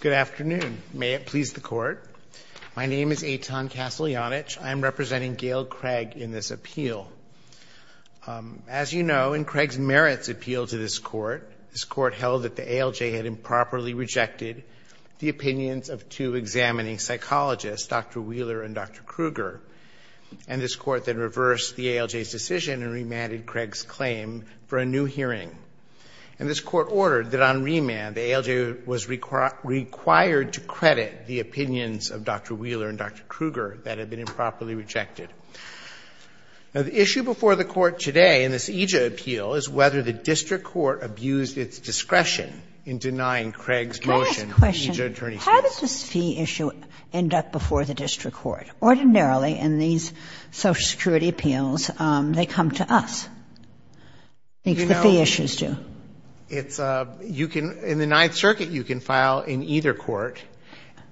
Good afternoon. May it please the Court. My name is Eitan Kasteljanich. I am representing Gail Craig in this appeal. As you know, in Craig's merits appeal to this Court, this Court held that the ALJ had improperly rejected the opinions of two examining psychologists, Dr. Wheeler and Dr. Krueger. And this Court then reversed the ALJ's decision and remanded Craig's claim for a new hearing. And this Court ordered that on remand, the ALJ was required to credit the opinions of Dr. Wheeler and Dr. Krueger that had been improperly rejected. Now, the issue before the Court today in this EJIA appeal is whether the district court abused its discretion in denying Craig's motion for EJIA attorney's fees. Can I ask a question? How does this fee issue end up before the district court? Ordinarily, in these Social Security appeals, they come to us. I think the fee issues do. It's a — you can — in the Ninth Circuit, you can file in either court.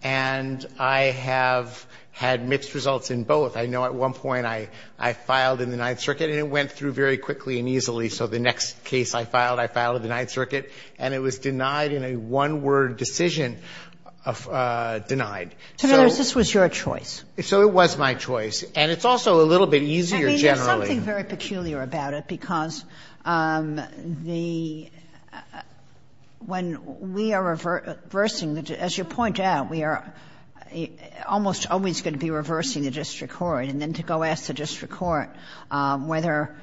And I have had mixed results in both. I know at one point I filed in the Ninth Circuit, and it went through very quickly and easily. So the next case I filed, I filed in the Ninth Circuit, and it was denied in a one-word decision, denied. So in other words, this was your choice. So it was my choice. And it's also a little bit easier generally. I mean, there's something very peculiar about it, because the — when we are reversing the — as you point out, we are almost always going to be reversing the district court. And then to go ask the district court whether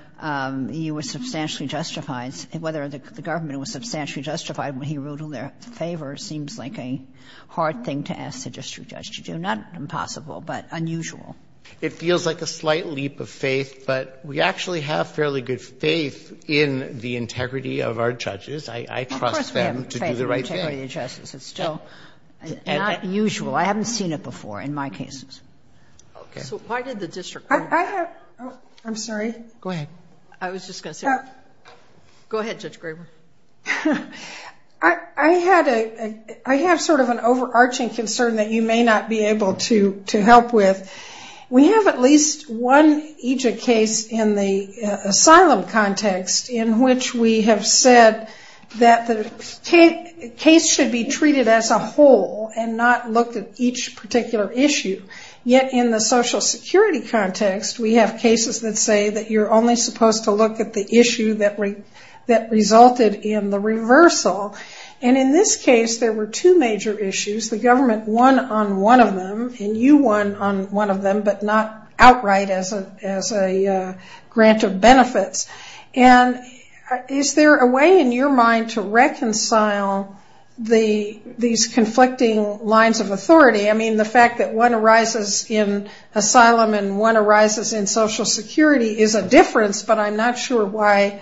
you were substantially justified, whether the government was substantially justified when he ruled in their favor, that's very unusual for a district judge to do. Not impossible, but unusual. It feels like a slight leap of faith. But we actually have fairly good faith in the integrity of our judges. I trust them to do the right thing. Of course we have faith in the integrity of the judges. It's still not usual. I haven't seen it before in my cases. Okay. So why did the district court — I have — oh, I'm sorry. Go ahead. I was just going to say — Go ahead, Judge Graber. I had a — I have sort of an overarching concern that you may not be able to help with. We have at least one EJIC case in the asylum context in which we have said that the case should be treated as a whole and not look at each particular issue. Yet in the Social Security context, we have cases that say that you're only supposed to look at the issue that resulted in the reversal. And in this case, there were two major issues. The government won on one of them, and you won on one of them, but not outright as a grant of benefits. And is there a way in your mind to reconcile these conflicting lines of authority? I mean, the fact that one arises in asylum and one arises in Social Security is a question that I'm not sure why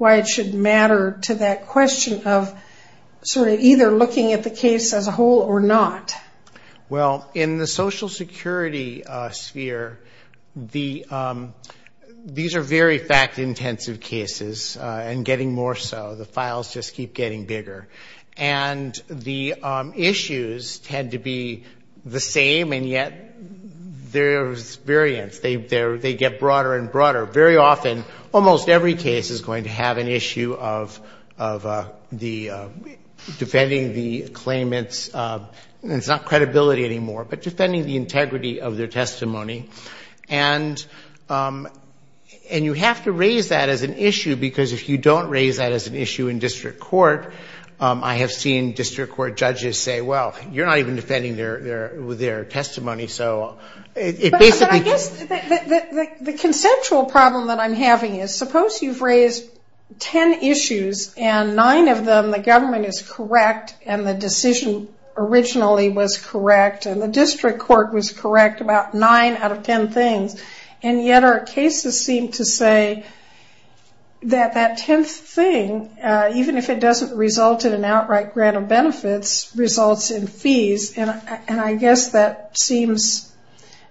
it should matter to that question of sort of either looking at the case as a whole or not. Well, in the Social Security sphere, these are very fact-intensive cases and getting more so. The files just keep getting bigger. And the issues tend to be the same, and yet there's variance. They get broader and broader. Very often, almost every case is going to have an issue of defending the claimant's – it's not credibility anymore, but defending the integrity of their testimony. And you have to raise that as an issue because if you don't raise that as an issue in district court, I have seen district court judges say, well, you're not even defending their testimony. But I guess the consensual problem that I'm having is suppose you've raised ten issues and nine of them the government is correct and the decision originally was correct and the district court was correct about nine out of ten things, and yet our cases seem to say that that tenth thing, even if it doesn't result in an outright grant of benefits, results in fees. And I guess that seems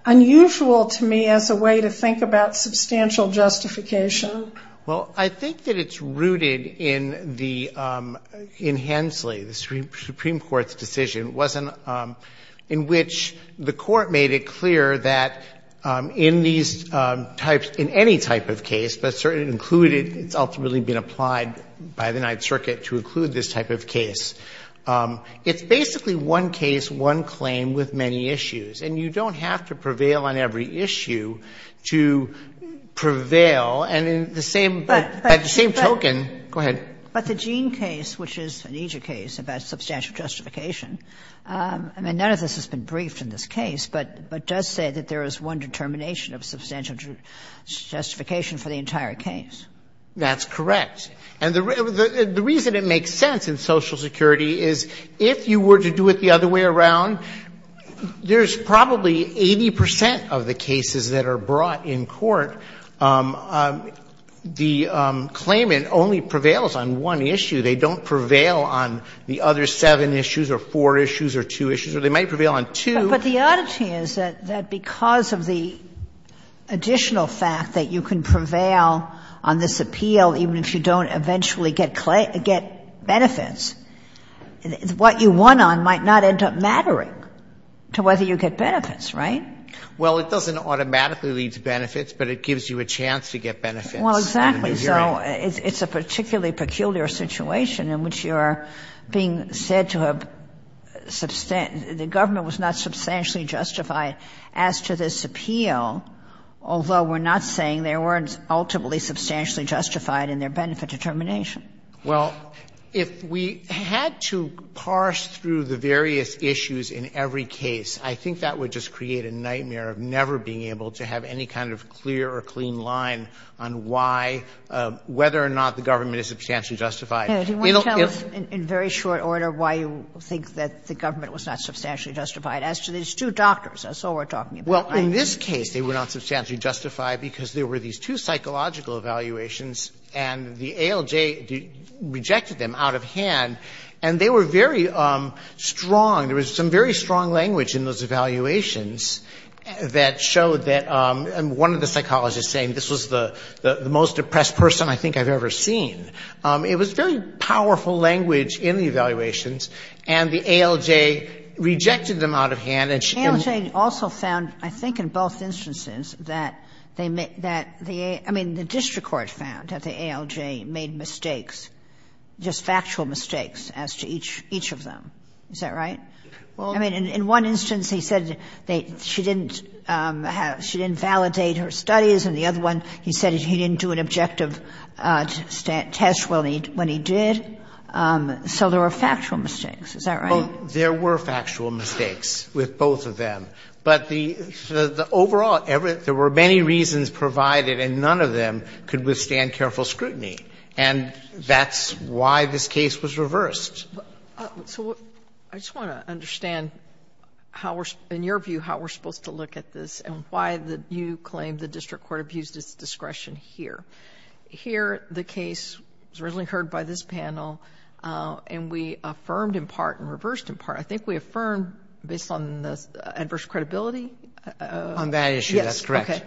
unusual to me as a way to think about substantial justification. Well, I think that it's rooted in the – in Hensley, the Supreme Court's decision, in which the Court made it clear that in these types – in any type of case, but certainly included – it's ultimately been applied by the Ninth Circuit to include this type of case. It's basically one case, one claim with many issues. And you don't have to prevail on every issue to prevail. And in the same – by the same token – go ahead. But the Jean case, which is an EJIA case about substantial justification, I mean, none of this has been briefed in this case, but it does say that there is one determination of substantial justification for the entire case. That's correct. And the reason it makes sense in Social Security is if you were to do it the other way around, there's probably 80 percent of the cases that are brought in court, the claimant only prevails on one issue. They don't prevail on the other seven issues or four issues or two issues. Or they might prevail on two. But the oddity is that because of the additional fact that you can prevail on this case, you don't eventually get benefits. What you won on might not end up mattering to whether you get benefits, right? Well, it doesn't automatically lead to benefits, but it gives you a chance to get benefits. Well, exactly. So it's a particularly peculiar situation in which you are being said to have substantial – the government was not substantially justified as to this appeal, although we're not saying they weren't ultimately substantially justified in their benefit determination. Well, if we had to parse through the various issues in every case, I think that would just create a nightmare of never being able to have any kind of clear or clean line on why – whether or not the government is substantially justified. It'll – if – Do you want to tell us in very short order why you think that the government was not substantially justified as to these two doctors? That's all we're talking about, right? Well, in this case, they were not substantially justified because there were these two psychological evaluations, and the ALJ rejected them out of hand. And they were very strong. There was some very strong language in those evaluations that showed that – and one of the psychologists saying this was the most depressed person I think I've ever seen. It was very powerful language in the evaluations, and the ALJ rejected them out of hand, and she didn't – And I think in both instances that they – that the – I mean, the district court found that the ALJ made mistakes, just factual mistakes, as to each of them. Is that right? Well, I mean, in one instance, he said they – she didn't – she didn't validate her studies, and the other one, he said he didn't do an objective test when he did. So there were factual mistakes. Is that right? Well, there were factual mistakes with both of them, but the – the overall – there were many reasons provided, and none of them could withstand careful scrutiny, and that's why this case was reversed. So I just want to understand how we're – in your view, how we're supposed to look at this and why the – you claim the district court abused its discretion here. Here, the case was originally heard by this panel, and we affirmed in part in reverse and reversed in part. I think we affirmed based on the adverse credibility. On that issue, that's correct. Yes.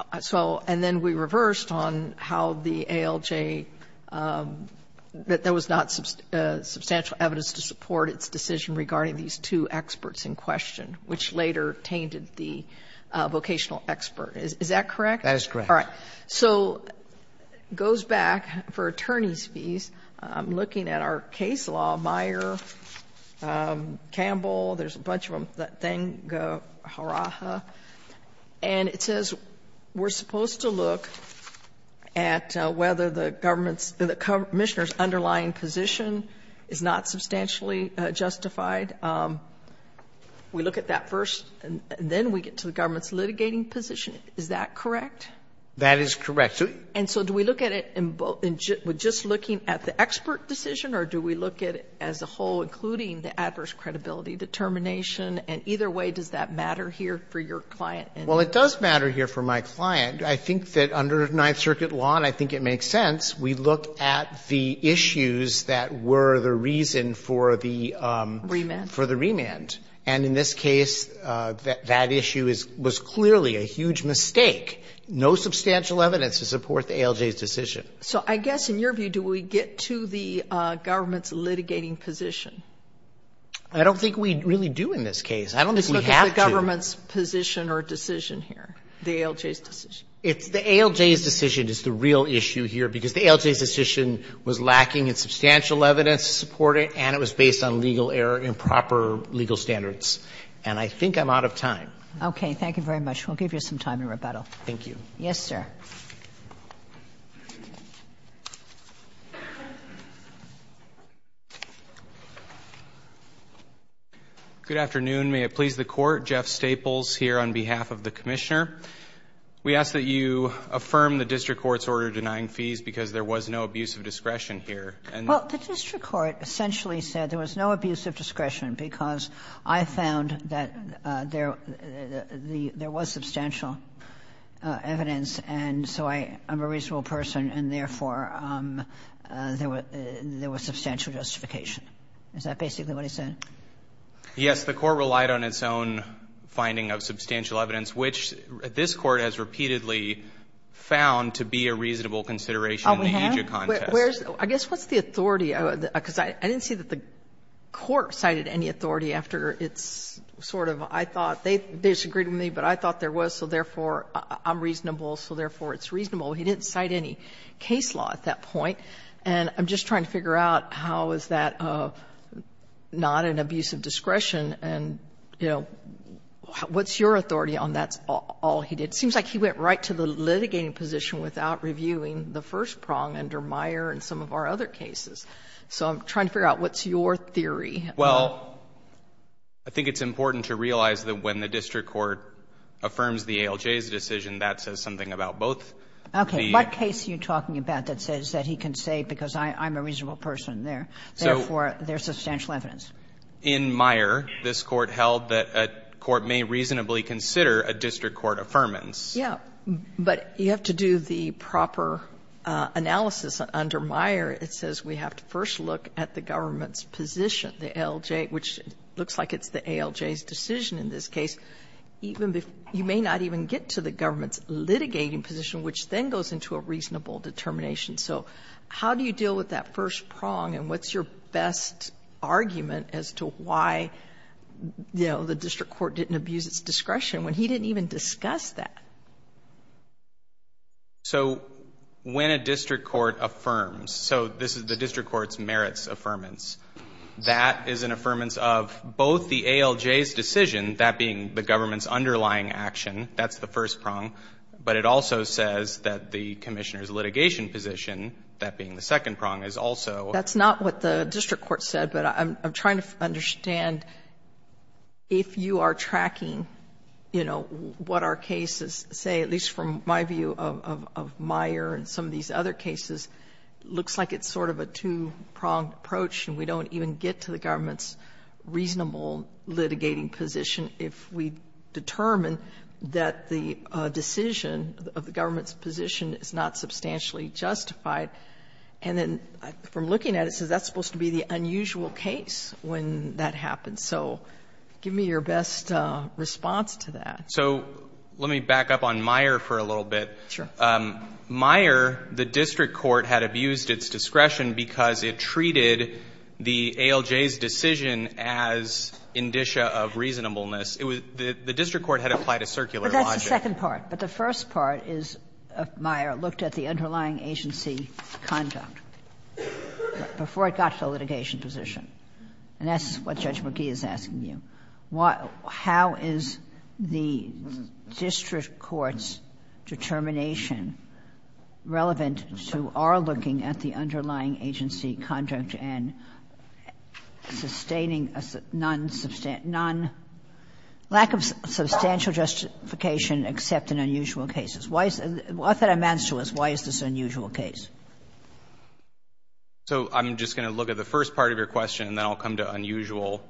Okay. So – and then we reversed on how the ALJ – that there was not substantial evidence to support its decision regarding these two experts in question, which later tainted the vocational expert. Is that correct? That is correct. All right. So it goes back for attorney's fees, looking at our case law, Meyer, Campbell, there's a bunch of them, Thanga Haraha, and it says we're supposed to look at whether the government's – the commissioner's underlying position is not substantially justified. We look at that first, and then we get to the government's litigating position. Is that correct? That is correct. And so do we look at it in both – just looking at the expert decision, or do we look at it as a whole, including the adverse credibility determination? And either way, does that matter here for your client? Well, it does matter here for my client. I think that under Ninth Circuit law, and I think it makes sense, we look at the issues that were the reason for the – Remand. For the remand. And in this case, that issue is – was clearly a huge mistake. No substantial evidence to support the ALJ's decision. So I guess in your view, do we get to the government's litigating position? I don't think we really do in this case. I don't think we have to. Let's look at the government's position or decision here, the ALJ's decision. The ALJ's decision is the real issue here, because the ALJ's decision was lacking in substantial evidence to support it, and it was based on legal error, improper legal standards. And I think I'm out of time. Okay. Thank you very much. We'll give you some time in rebuttal. Thank you. Yes, sir. Good afternoon. May it please the Court. Jeff Staples here on behalf of the Commissioner. We ask that you affirm the district court's order denying fees because there was no abuse of discretion here. Well, the district court essentially said there was no abuse of discretion because I found that there was substantial evidence, and so I'm a reasonable person, and therefore, there was substantial justification. Is that basically what he said? Yes. The court relied on its own finding of substantial evidence, which this Court has repeatedly found to be a reasonable consideration in the AGIA contest. I guess what's the authority? Because I didn't see that the court cited any authority after it's sort of, I thought they disagreed with me, but I thought there was, so therefore, I'm reasonable, so therefore, it's reasonable. He didn't cite any case law at that point. And I'm just trying to figure out how is that not an abuse of discretion? And, you know, what's your authority on that's all he did? It seems like he went right to the litigating position without reviewing the first prong under Meyer and some of our other cases. So I'm trying to figure out what's your theory. Well, I think it's important to realize that when the district court affirms the ALJ's decision, that says something about both. Okay. What case are you talking about that says that he can say because I'm a reasonable person, therefore, there's substantial evidence? In Meyer, this Court held that a court may reasonably consider a district court affirmance. Yeah. But you have to do the proper analysis under Meyer. It says we have to first look at the government's position, the ALJ, which looks like it's the ALJ's decision in this case. Even if you may not even get to the government's litigating position, which then goes into a reasonable determination. So how do you deal with that first prong and what's your best argument as to why, you know, the district court didn't abuse its discretion when he didn't even discuss that? So when a district court affirms, so this is the district court's merits affirmance, that is an affirmance of both the ALJ's decision, that being the government's underlying action, that's the first prong, but it also says that the commissioner's litigation position, that being the second prong, is also. That's not what the district court said, but I'm trying to understand if you are looking at cases, say, at least from my view of Meyer and some of these other cases, looks like it's sort of a two-pronged approach and we don't even get to the government's reasonable litigating position if we determine that the decision of the government's position is not substantially justified. And then from looking at it, it says that's supposed to be the unusual case when that happens. So give me your best response to that. So let me back up on Meyer for a little bit. Sure. Meyer, the district court had abused its discretion because it treated the ALJ's decision as indicia of reasonableness. It was the district court had applied a circular logic. But that's the second part. But the first part is Meyer looked at the underlying agency conduct before it got to the litigation position, and that's what Judge McGee is asking you. How is the district court's determination relevant to our looking at the underlying agency conduct and sustaining a non-substantial, non-lack of substantial justification except in unusual cases? What that amounts to is why is this an unusual case? So I'm just going to look at the first part of your question and then I'll come to unusual.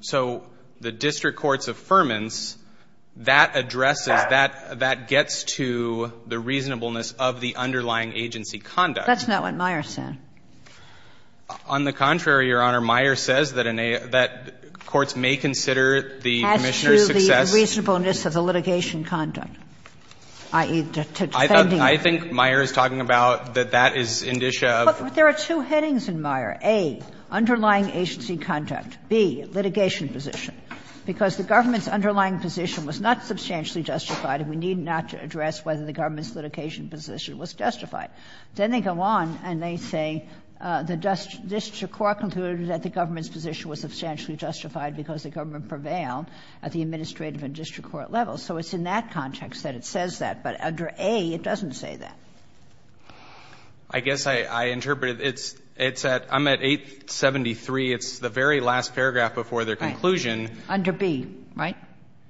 So the district court's affirmance, that addresses, that gets to the reasonableness of the underlying agency conduct. That's not what Meyer said. On the contrary, Your Honor, Meyer says that courts may consider the Commissioner's success. As to the reasonableness of the litigation conduct, i.e., to defending. I think Meyer is talking about that that is indicia of. But there are two headings in Meyer. A, underlying agency conduct. B, litigation position. Because the government's underlying position was not substantially justified and we need not to address whether the government's litigation position was justified. Then they go on and they say the district court concluded that the government's position was substantially justified because the government prevailed at the administrative and district court level. So it's in that context that it says that, but under A, it doesn't say that. I guess I interpreted it's at, I'm at 873. It's the very last paragraph before their conclusion. Under B, right?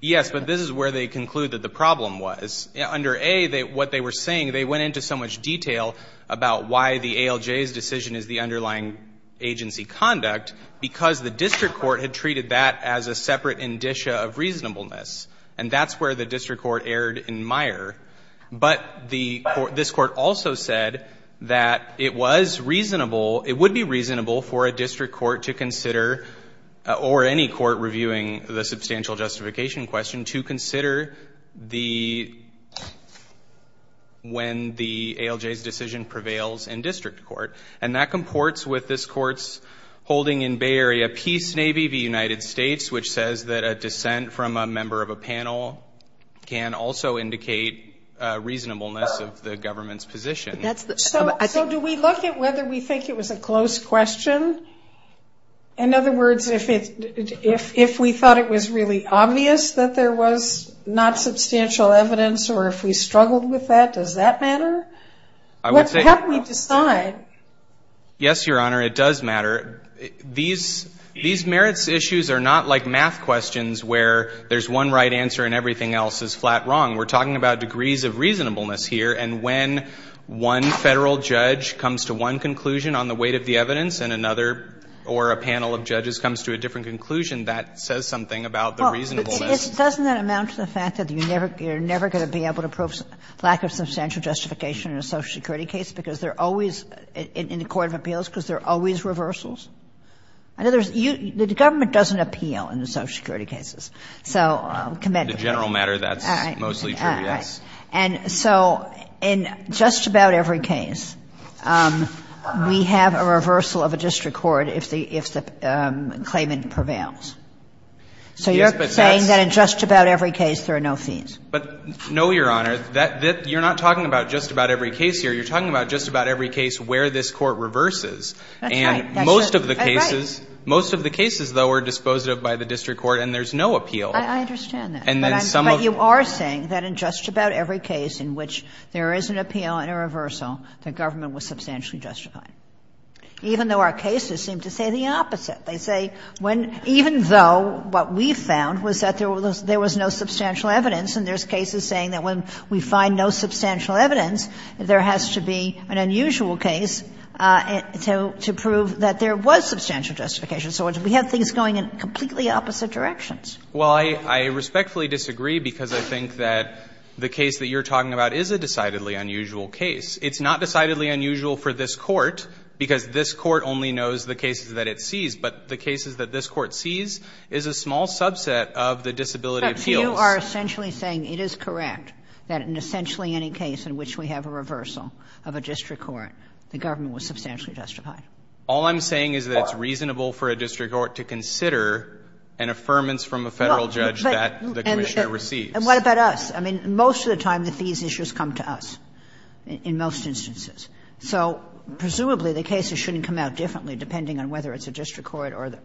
Yes, but this is where they conclude that the problem was. Under A, what they were saying, they went into so much detail about why the ALJ's decision is the underlying agency conduct, because the district court had treated that as a separate indicia of reasonableness. And that's where the district court erred in Meyer. But this court also said that it was reasonable, it would be reasonable for a district court to consider, or any court reviewing the substantial justification question, to consider the, when the ALJ's decision prevails in district court. And that comports with this court's holding in Bay Area Peace Navy v. United States, which says that a dissent from a member of a panel can also indicate reasonableness of the government's position. So do we look at whether we think it was a close question? In other words, if we thought it was really obvious that there was not substantial evidence, or if we struggled with that, does that matter? I would say- How can we decide? Yes, Your Honor, it does matter. These merits issues are not like math questions where there's one right answer and everything else is flat wrong. We're talking about degrees of reasonableness here, and when one Federal judge comes to one conclusion on the weight of the evidence, and another or a panel of judges comes to a different conclusion, that says something about the reasonableness. Doesn't that amount to the fact that you're never going to be able to prove lack of substantial justification in a Social Security case because they're always, in the court of appeals, because there are always reversals? In other words, the government doesn't appeal in the Social Security cases. So commend the Court. And I think if that's true, then I think it's not a matter of whether or not you appeal in a case where there's no appeal, or if it's not a matter of whether or not you appeal in a case where that's mostly true, yes. Right, right. And so in just about every case, we have a reversal of a district court if the claimant prevails. So you're saying that in just about every case there are no fiends. But no, Your Honor, you're not talking about just about every case here. But you are saying that in just about every case in which there is an appeal and a reversal, the government was substantially justified, even though our cases seem to say the opposite. They say when even though what we found was that there was no substantial evidence, and there's cases saying that when we find no substantial evidence, there has to be an unusual case to prove that there was substantial justification. So we have things going in completely opposite directions. Well, I respectfully disagree, because I think that the case that you're talking about is a decidedly unusual case. It's not decidedly unusual for this Court, because this Court only knows the cases that it sees. But the cases that this Court sees is a small subset of the disability appeals. But you are essentially saying it is correct that in essentially any case in which we have a reversal of a district court, the government was substantially justified. All I'm saying is that it's reasonable for a district court to consider an affirmance from a Federal judge that the commissioner receives. And what about us? I mean, most of the time the fees issues come to us in most instances. So presumably the cases shouldn't come out differently, depending on whether it's a district court or the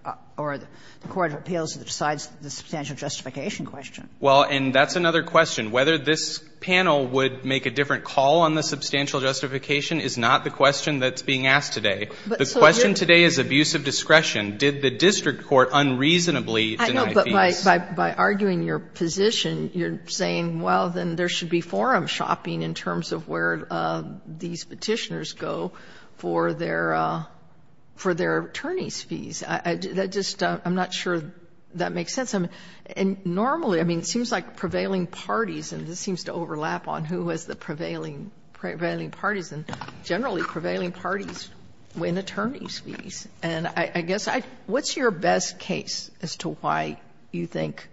court of appeals that decides the substantial justification question. Well, and that's another question. Whether this panel would make a different call on the substantial justification is not the question that's being asked today. The question today is abuse of discretion. Did the district court unreasonably deny fees? By arguing your position, you're saying, well, then there should be forum shopping in terms of where these Petitioners go for their attorneys' fees. I'm not sure that makes sense. And normally, I mean, it seems like prevailing parties, and this seems to overlap on who has the prevailing parties, and generally prevailing parties win attorneys' fees. And I guess, what's your best case as to why you think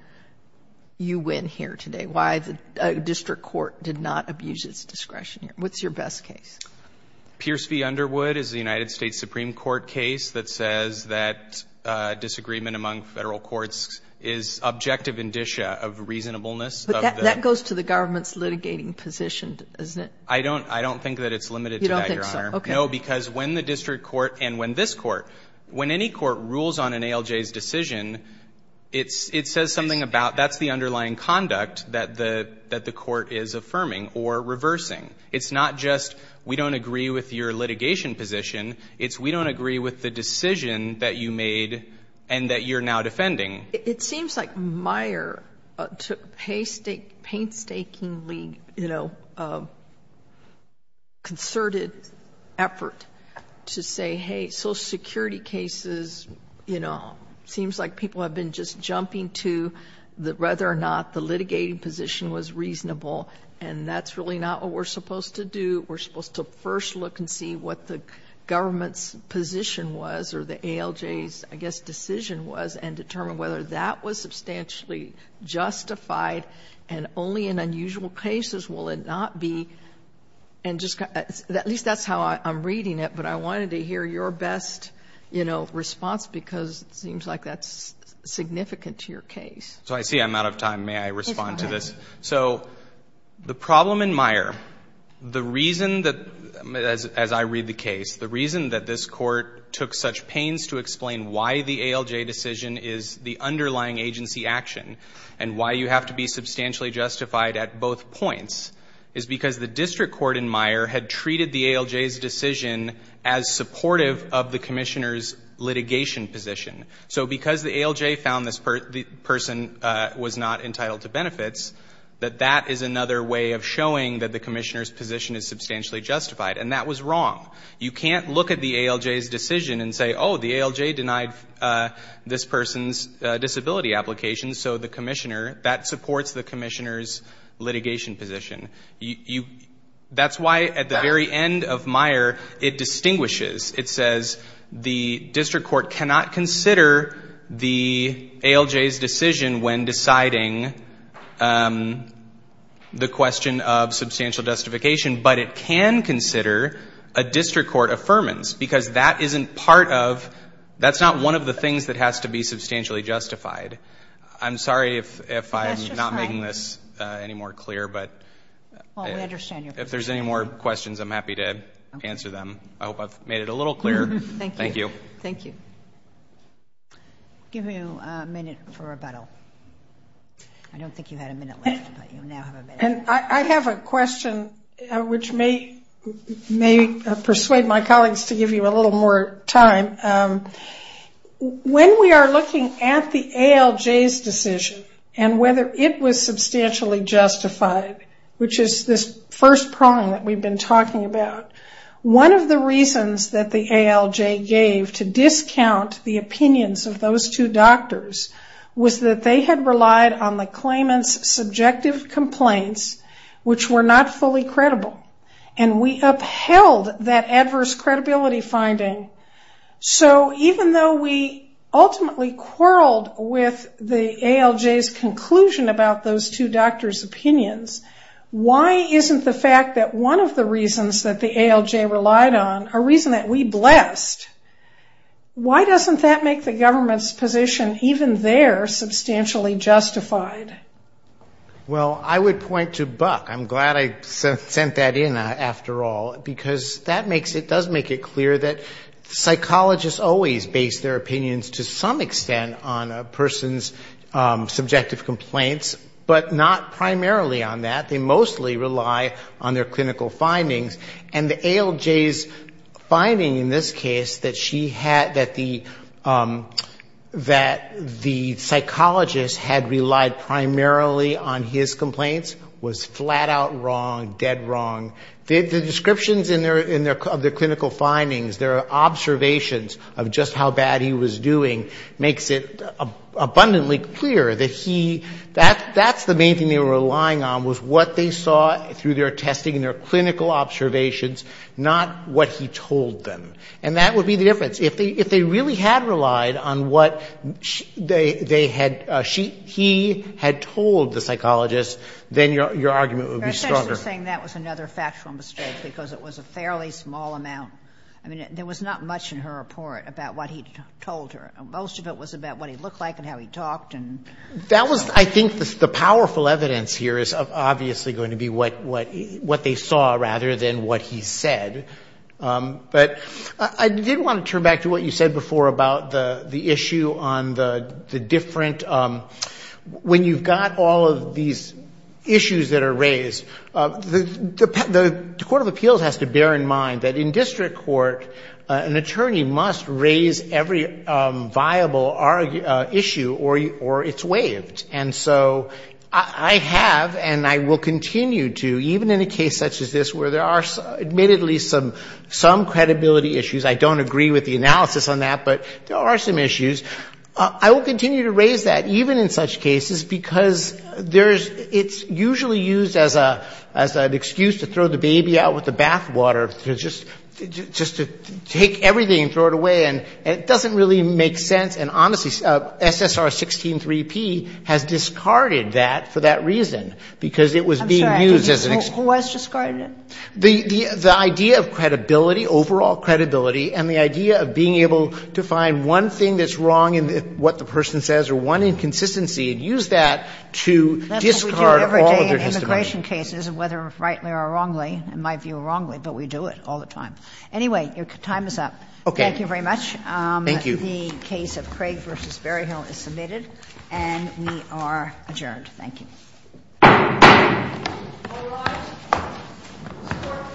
you win here today? Why the district court did not abuse its discretion here? What's your best case? Pierce v. Underwood is the United States Supreme Court case that says that disagreement among federal courts is objective indicia of reasonableness. But that goes to the government's litigating position, doesn't it? I don't think that it's limited to that, Your Honor. No, because when the district court and when this court, when any court rules on an ALJ's decision, it says something about that's the underlying conduct that the court is affirming or reversing. It's not just we don't agree with your litigation position. It's we don't agree with the decision that you made and that you're now defending. It seems like Meyer took painstakingly, you know, concerted effort to say, hey, social security cases, you know, seems like people have been just jumping to whether or not the litigating position was reasonable, and that's really not what we're supposed to do. We're supposed to first look and see what the government's position was or the ALJ's, I guess, decision was, and determine whether that was substantially justified and only in unusual cases will it not be. And just at least that's how I'm reading it, but I wanted to hear your best, you know, response because it seems like that's significant to your case. So I see I'm out of time. May I respond to this? So the problem in Meyer, the reason that, as I read the case, the reason that this why the ALJ decision is the underlying agency action and why you have to be substantially justified at both points is because the district court in Meyer had treated the ALJ's decision as supportive of the commissioner's litigation position. So because the ALJ found this person was not entitled to benefits, that that is another way of showing that the commissioner's position is substantially justified, and that was wrong. You can't look at the ALJ's decision and say, oh, the ALJ denied this person's disability application, so the commissioner, that supports the commissioner's litigation position. That's why at the very end of Meyer, it distinguishes. It says the district court cannot consider the ALJ's decision when deciding the question of substantial justification, but it can consider a district court affirmance, because that isn't part of, that's not one of the things that has to be substantially justified. I'm sorry if I'm not making this any more clear, but if there's any more questions, I'm happy to answer them. I hope I've made it a little clearer. Thank you. Thank you. Thank you. I'll give you a minute for rebuttal. I don't think you had a minute left, but you now have a minute. I have a question, which may persuade my colleagues to give you a little more time. When we are looking at the ALJ's decision, and whether it was substantially justified, which is this first prong that we've been talking about, one of the reasons that the ALJ gave to discount the opinions of those two doctors was that they had relied on the complaints, which were not fully credible, and we upheld that adverse credibility finding. Even though we ultimately quarreled with the ALJ's conclusion about those two doctors' opinions, why isn't the fact that one of the reasons that the ALJ relied on, a reason that we blessed, why doesn't that make the government's position, even there, substantially justified? Well, I would point to Buck. I'm glad I sent that in, after all, because that makes it, does make it clear that psychologists always base their opinions to some extent on a person's subjective complaints, but not primarily on that. They mostly rely on their clinical findings, and the ALJ's finding in this case that she had, that the, that the psychologist had relied primarily on his complaints was flat-out wrong, dead wrong. The descriptions in their, of their clinical findings, their observations of just how bad he was doing, makes it abundantly clear that he, that's the main thing they were relying on, was what they saw through their testing and their clinical observations, not what he told them. And that would be the difference. If they, if they really had relied on what they, they had, she, he had told the psychologist, then your, your argument would be stronger. You're essentially saying that was another factual mistake, because it was a fairly small amount. I mean, there was not much in her report about what he told her. Most of it was about what he looked like and how he talked and... That was, I think, the powerful evidence here is obviously going to be what, what, what they saw rather than what he said. But I did want to turn back to what you said before about the, the issue on the, the different, when you've got all of these issues that are raised, the, the, the Court of Appeals has to bear in mind that in district court, an attorney must raise every viable issue or, or it's waived. And so I have, and I will continue to, even in a case such as this, where there are admittedly some, some credibility issues. I don't agree with the analysis on that, but there are some issues. I will continue to raise that, even in such cases, because there's, it's usually used as a, as an excuse to throw the baby out with the bath water, to just, just to take everything and throw it away. And it doesn't really make sense. And honestly, SSR 16-3P has discarded that for that reason, because it was being used as an excuse. I'm sorry. Who has discarded it? The, the, the idea of credibility, overall credibility, and the idea of being able to find one thing that's wrong in what the person says or one inconsistency and use that to discard all of their testimony. That's what we do every day in immigration cases, whether rightly or wrongly. In my view, wrongly, but we do it all the time. Anyway, your time is up. Okay. Thank you very much. Thank you. The case of Craig v. Berryhill is submitted, and we are adjourned. Thank you. All rise. Support for this session stands adjourned.